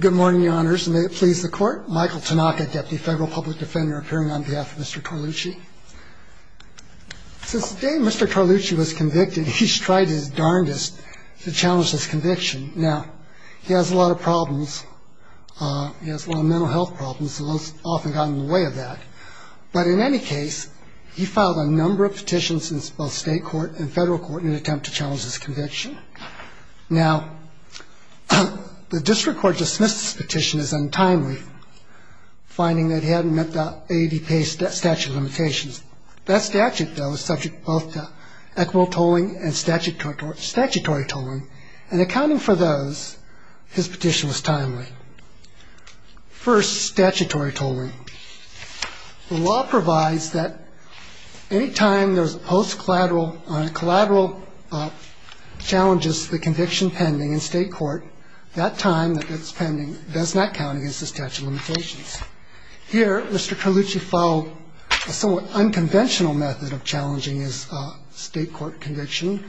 Good morning, Your Honors, and may it please the Court, Michael Tanaka, Deputy Federal Public Defender, appearing on behalf of Mr. Torlucci. Since the day Mr. Torlucci was convicted, he's tried his darndest to challenge this conviction. Now, he has a lot of problems. He has a lot of mental health problems and has often gotten in the way of that. But in any case, he filed a number of petitions in both state court and federal court in an attempt to challenge this conviction. Now, the district court dismissed his petition as untimely, finding that he hadn't met the AADP statute of limitations. That statute, though, is subject both to equitable tolling and statutory tolling, and accounting for those, his petition was timely. First, statutory tolling. The law provides that any time there's post-collateral or collateral challenges to the conviction pending in state court, that time that it's pending does not count against the statute of limitations. Here, Mr. Torlucci followed a somewhat unconventional method of challenging his state court conviction,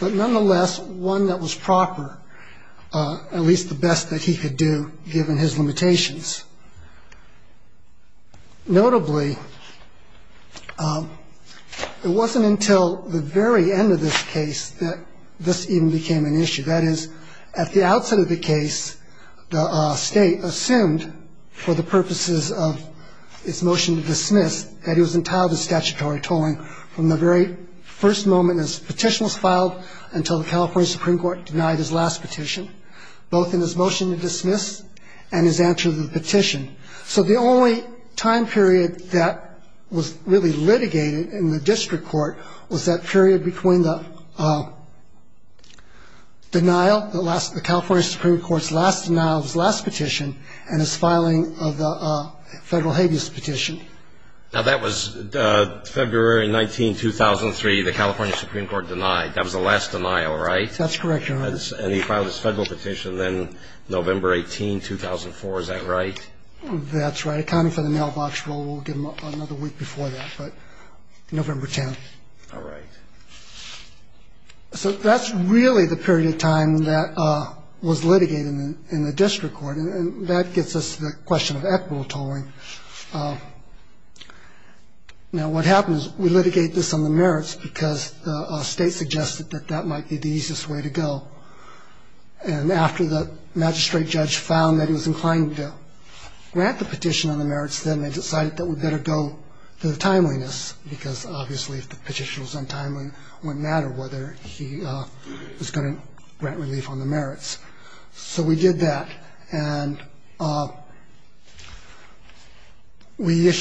but nonetheless one that was proper, at least the best that he could do given his limitations. Notably, it wasn't until the very end of this case that this even became an issue. That is, at the outset of the case, the state assumed, for the purposes of its motion to dismiss, that he was entitled to statutory tolling from the very first moment his petition was filed until the California Supreme Court denied his last petition, both in his motion to dismiss and his answer to the petition. So the only time period that was really litigated in the district court was that period between the denial, the California Supreme Court's last denial of his last petition and his filing of the federal habeas petition. Now, that was February 19, 2003. The California Supreme Court denied. That was the last denial, right? That's correct, Your Honor. And he filed his federal petition then November 18, 2004. Is that right? That's right. Accounting for the mailbox rule, we'll give him another week before that, but November 10. All right. So that's really the period of time that was litigated in the district court. And that gets us to the question of equitable tolling. Now, what happens, we litigate this on the merits because the state suggested that that might be the easiest way to go. And after the magistrate judge found that he was inclined to grant the petition on the merits, then they decided that we'd better go to the timeliness because, obviously, if the petition was untimely, it wouldn't matter whether he was going to grant relief on the merits. So we did that, and we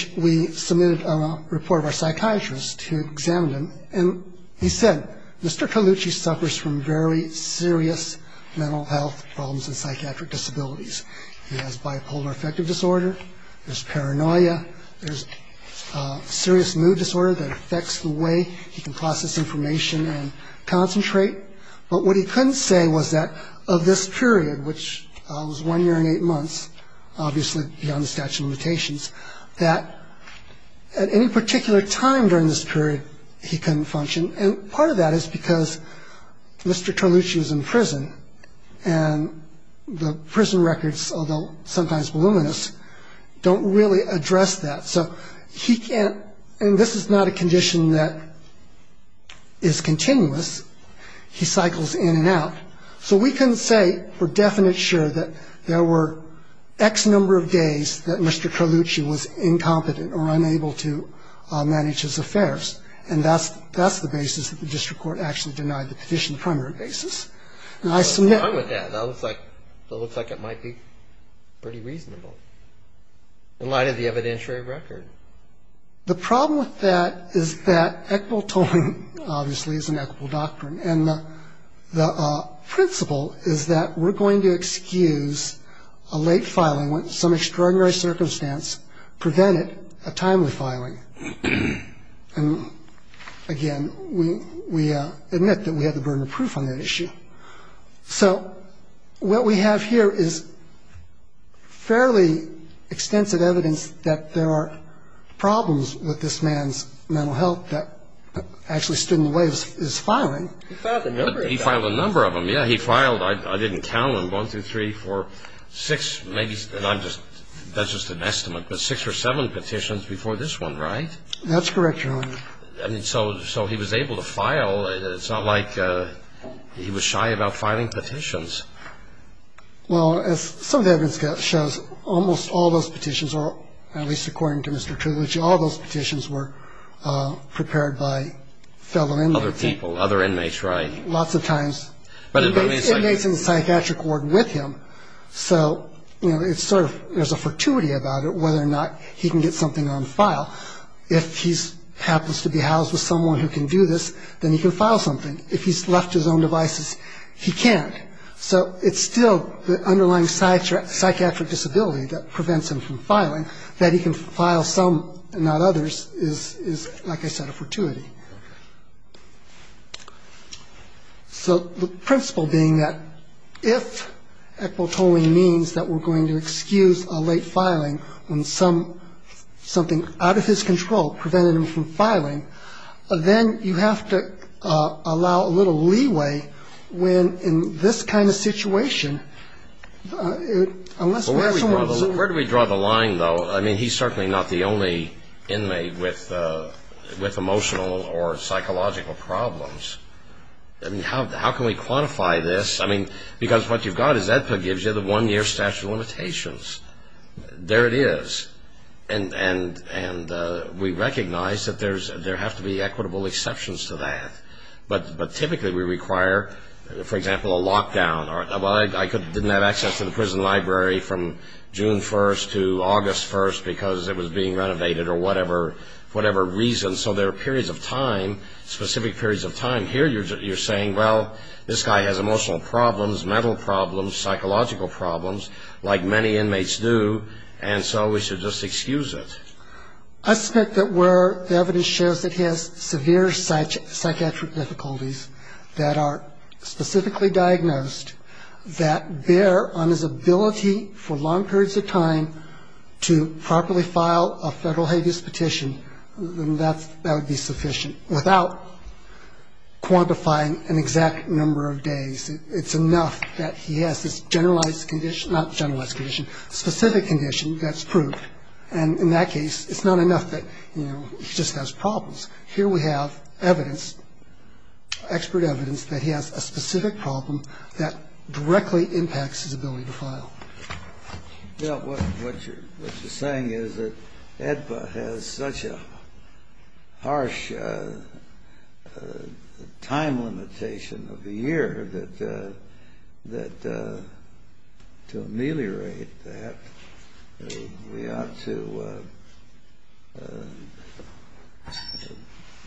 submitted a report of our psychiatrist who examined him, and he said, Mr. Colucci suffers from very serious mental health problems and psychiatric disabilities. He has bipolar affective disorder. There's paranoia. There's serious mood disorder that affects the way he can process information and concentrate. But what he couldn't say was that of this period, which was one year and eight months, obviously beyond the statute of limitations, that at any particular time during this period he couldn't function. And part of that is because Mr. Colucci was in prison, and the prison records, although sometimes voluminous, don't really address that. So he can't – and this is not a condition that is continuous. He cycles in and out. So we couldn't say for definite sure that there were X number of days that Mr. Colucci was incompetent or unable to manage his affairs. And that's the basis that the district court actually denied the petition the primary basis. And I submit – It looks like it might be pretty reasonable in light of the evidentiary record. The problem with that is that equitable tolling obviously is an equitable doctrine, and the principle is that we're going to excuse a late filing when some extraordinary circumstance prevented a timely filing. And, again, we admit that we have the burden of proof on that issue. So what we have here is fairly extensive evidence that there are problems with this man's mental health that actually stood in the way of his filing. He filed a number of them. He filed a number of them, yeah. He filed – I didn't count them, one, two, three, four, six, maybe – and I'm just – that's just an estimate, but six or seven petitions before this one, right? That's correct, Your Honor. I mean, so he was able to file. It's not like he was shy about filing petitions. Well, as some of the evidence shows, almost all those petitions, or at least according to Mr. Trulich, all those petitions were prepared by fellow inmates. Other people, other inmates, right. Lots of times inmates in the psychiatric ward with him. So, you know, it's sort of – there's a fortuity about it, whether or not he can get something on file. If he happens to be housed with someone who can do this, then he can file something. If he's left to his own devices, he can't. So it's still the underlying psychiatric disability that prevents him from filing. That he can file some and not others is, like I said, a fortuity. So the principle being that if ectotoling means that we're going to excuse a late filing when something out of his control prevented him from filing, then you have to allow a little leeway when in this kind of situation. Where do we draw the line, though? I mean, he's certainly not the only inmate with emotional or psychological problems. I mean, how can we quantify this? I mean, because what you've got is EDPA gives you the one-year statute of limitations. There it is. And we recognize that there have to be equitable exceptions to that. But typically we require, for example, a lockdown. Well, I didn't have access to the prison library from June 1st to August 1st because it was being renovated or whatever reason. So there are periods of time, specific periods of time. Here you're saying, well, this guy has emotional problems, mental problems, psychological problems. Like many inmates do, and so we should just excuse it. I suspect that where the evidence shows that he has severe psychiatric difficulties that are specifically diagnosed that bear on his ability for long periods of time to properly file a federal habeas petition, then that would be sufficient without quantifying an exact number of days. It's enough that he has this generalized condition, not generalized condition, specific condition that's proved. And in that case, it's not enough that, you know, he just has problems. Here we have evidence, expert evidence that he has a specific problem that directly impacts his ability to file. Well, what you're saying is that AEDPA has such a harsh time limitation of a year that to ameliorate that, we ought to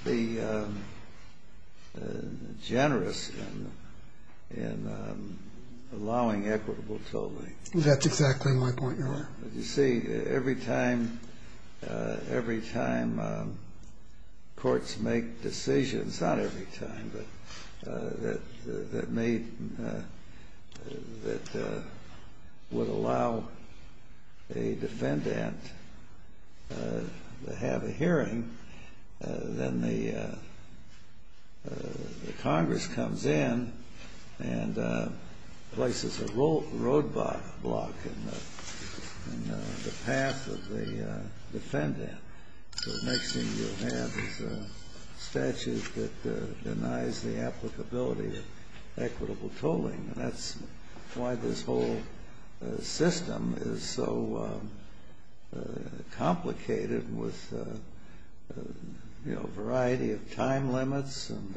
be generous in allowing equitable tolling. That's exactly my point, Your Honor. You see, every time courts make decisions, not every time, but that would allow a defendant to have a hearing, then the Congress comes in and places a roadblock in the path of the defendant. So the next thing you'll have is a statute that denies the applicability of equitable tolling. And that's why this whole system is so complicated with, you know, a variety of time limits and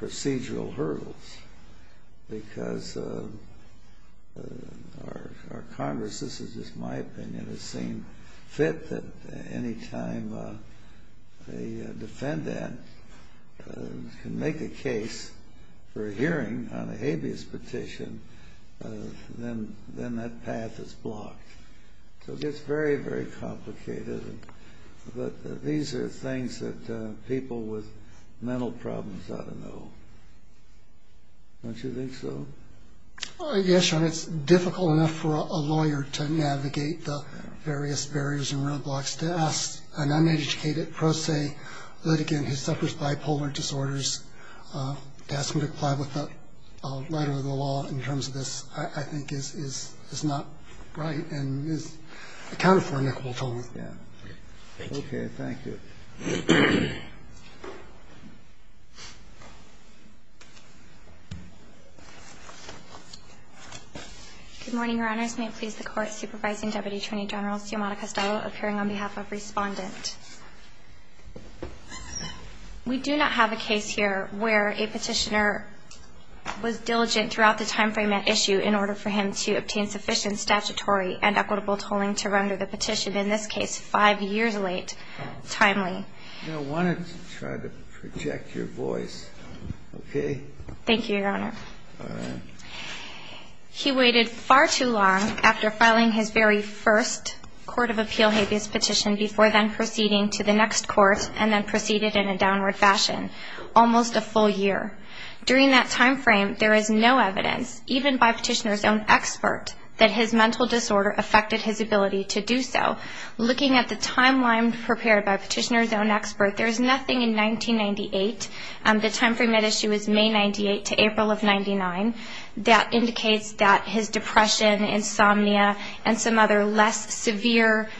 procedural hurdles. Because our Congress, this is just my opinion, has seen fit that any time a defendant can make a case for a hearing on a habeas petition, then that path is blocked. So it gets very, very complicated. But these are things that people with mental problems ought to know. Don't you think so? Yes, Your Honor, it's difficult enough for a lawyer to navigate the various barriers and roadblocks to ask an uneducated pro se litigant who suffers bipolar disorders to ask him to comply with a letter of the law in terms of this, I think, is not right and is accounted for in equitable tolling. Thank you. Okay, thank you. Good morning, Your Honors. May it please the Court. Supervising Deputy Attorney General Symona Castello appearing on behalf of Respondent. We do not have a case here where a petitioner was diligent throughout the timeframe at issue in order for him to obtain sufficient statutory and equitable tolling to render the petition, in this case, five years late, timely. I wanted to try to project your voice, okay? Thank you, Your Honor. All right. He waited far too long after filing his very first court of appeal habeas petition before then proceeding to the next court and then proceeded in a downward fashion, almost a full year. During that timeframe, there is no evidence, even by a petitioner's own expert, that his mental disorder affected his ability to do so. Looking at the timeline prepared by a petitioner's own expert, there is nothing in 1998. The timeframe at issue is May 98 to April of 99. That indicates that his depression, insomnia, and some other less severe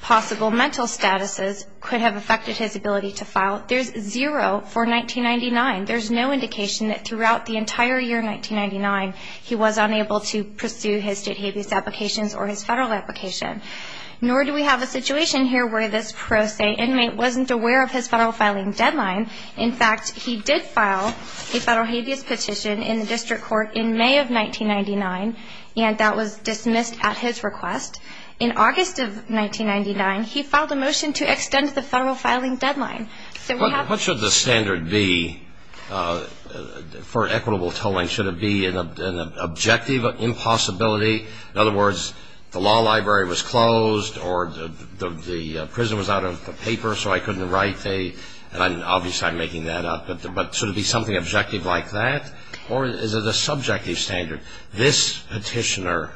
possible mental statuses could have affected his ability to file. There's zero for 1999. There's no indication that throughout the entire year, 1999, he was unable to pursue his state habeas applications or his federal application. Nor do we have a situation here where this pro se inmate wasn't aware of his federal filing deadline. In fact, he did file a federal habeas petition in the district court in May of 1999, and that was dismissed at his request. In August of 1999, he filed a motion to extend the federal filing deadline. What should the standard be for equitable tolling? Should it be an objective impossibility? In other words, the law library was closed, or the prison was out of paper, so I couldn't write. Obviously, I'm making that up. But should it be something objective like that, or is it a subjective standard? This petitioner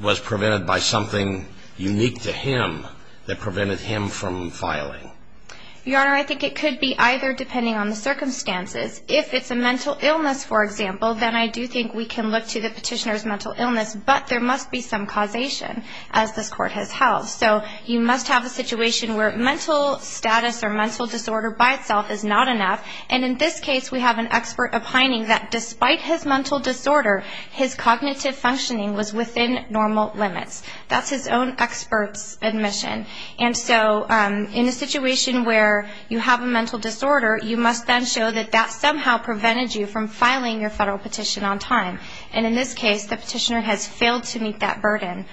was prevented by something unique to him that prevented him from filing. Your Honor, I think it could be either, depending on the circumstances. If it's a mental illness, for example, then I do think we can look to the petitioner's mental illness, but there must be some causation, as this Court has held. So you must have a situation where mental status or mental disorder by itself is not enough. And in this case, we have an expert opining that despite his mental disorder, his cognitive functioning was within normal limits. That's his own expert's admission. And so in a situation where you have a mental disorder, you must then show that that somehow prevented you from filing your federal petition on time. And in this case, the petitioner has failed to meet that burden.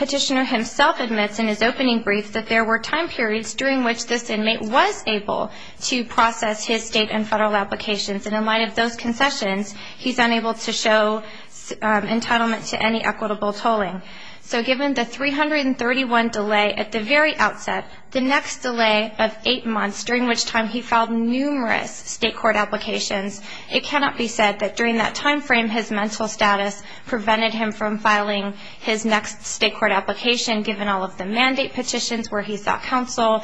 The petitioner himself admits in his opening brief that there were time periods during which this inmate was able to process his state and federal applications. And in light of those concessions, he's unable to show entitlement to any equitable tolling. So given the 331 delay at the very outset, the next delay of eight months, during which time he filed numerous state court applications, it cannot be said that during that time frame his mental status prevented him from filing his next state court application, given all of the mandate petitions where he sought counsel,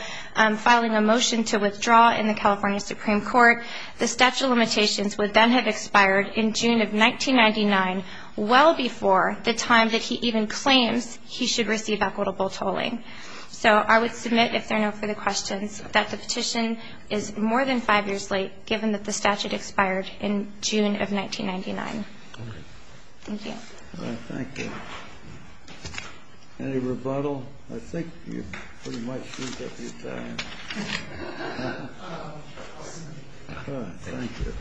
filing a motion to withdraw in the California Supreme Court. The statute of limitations would then have expired in June of 1999, well before the time that he even claims he should receive equitable tolling. So I would submit, if there are no further questions, that the petition is more than five years late, given that the statute expired in June of 1999. Thank you. All right, thank you. Any rebuttal? I think you pretty much beat up your time. All right, thank you.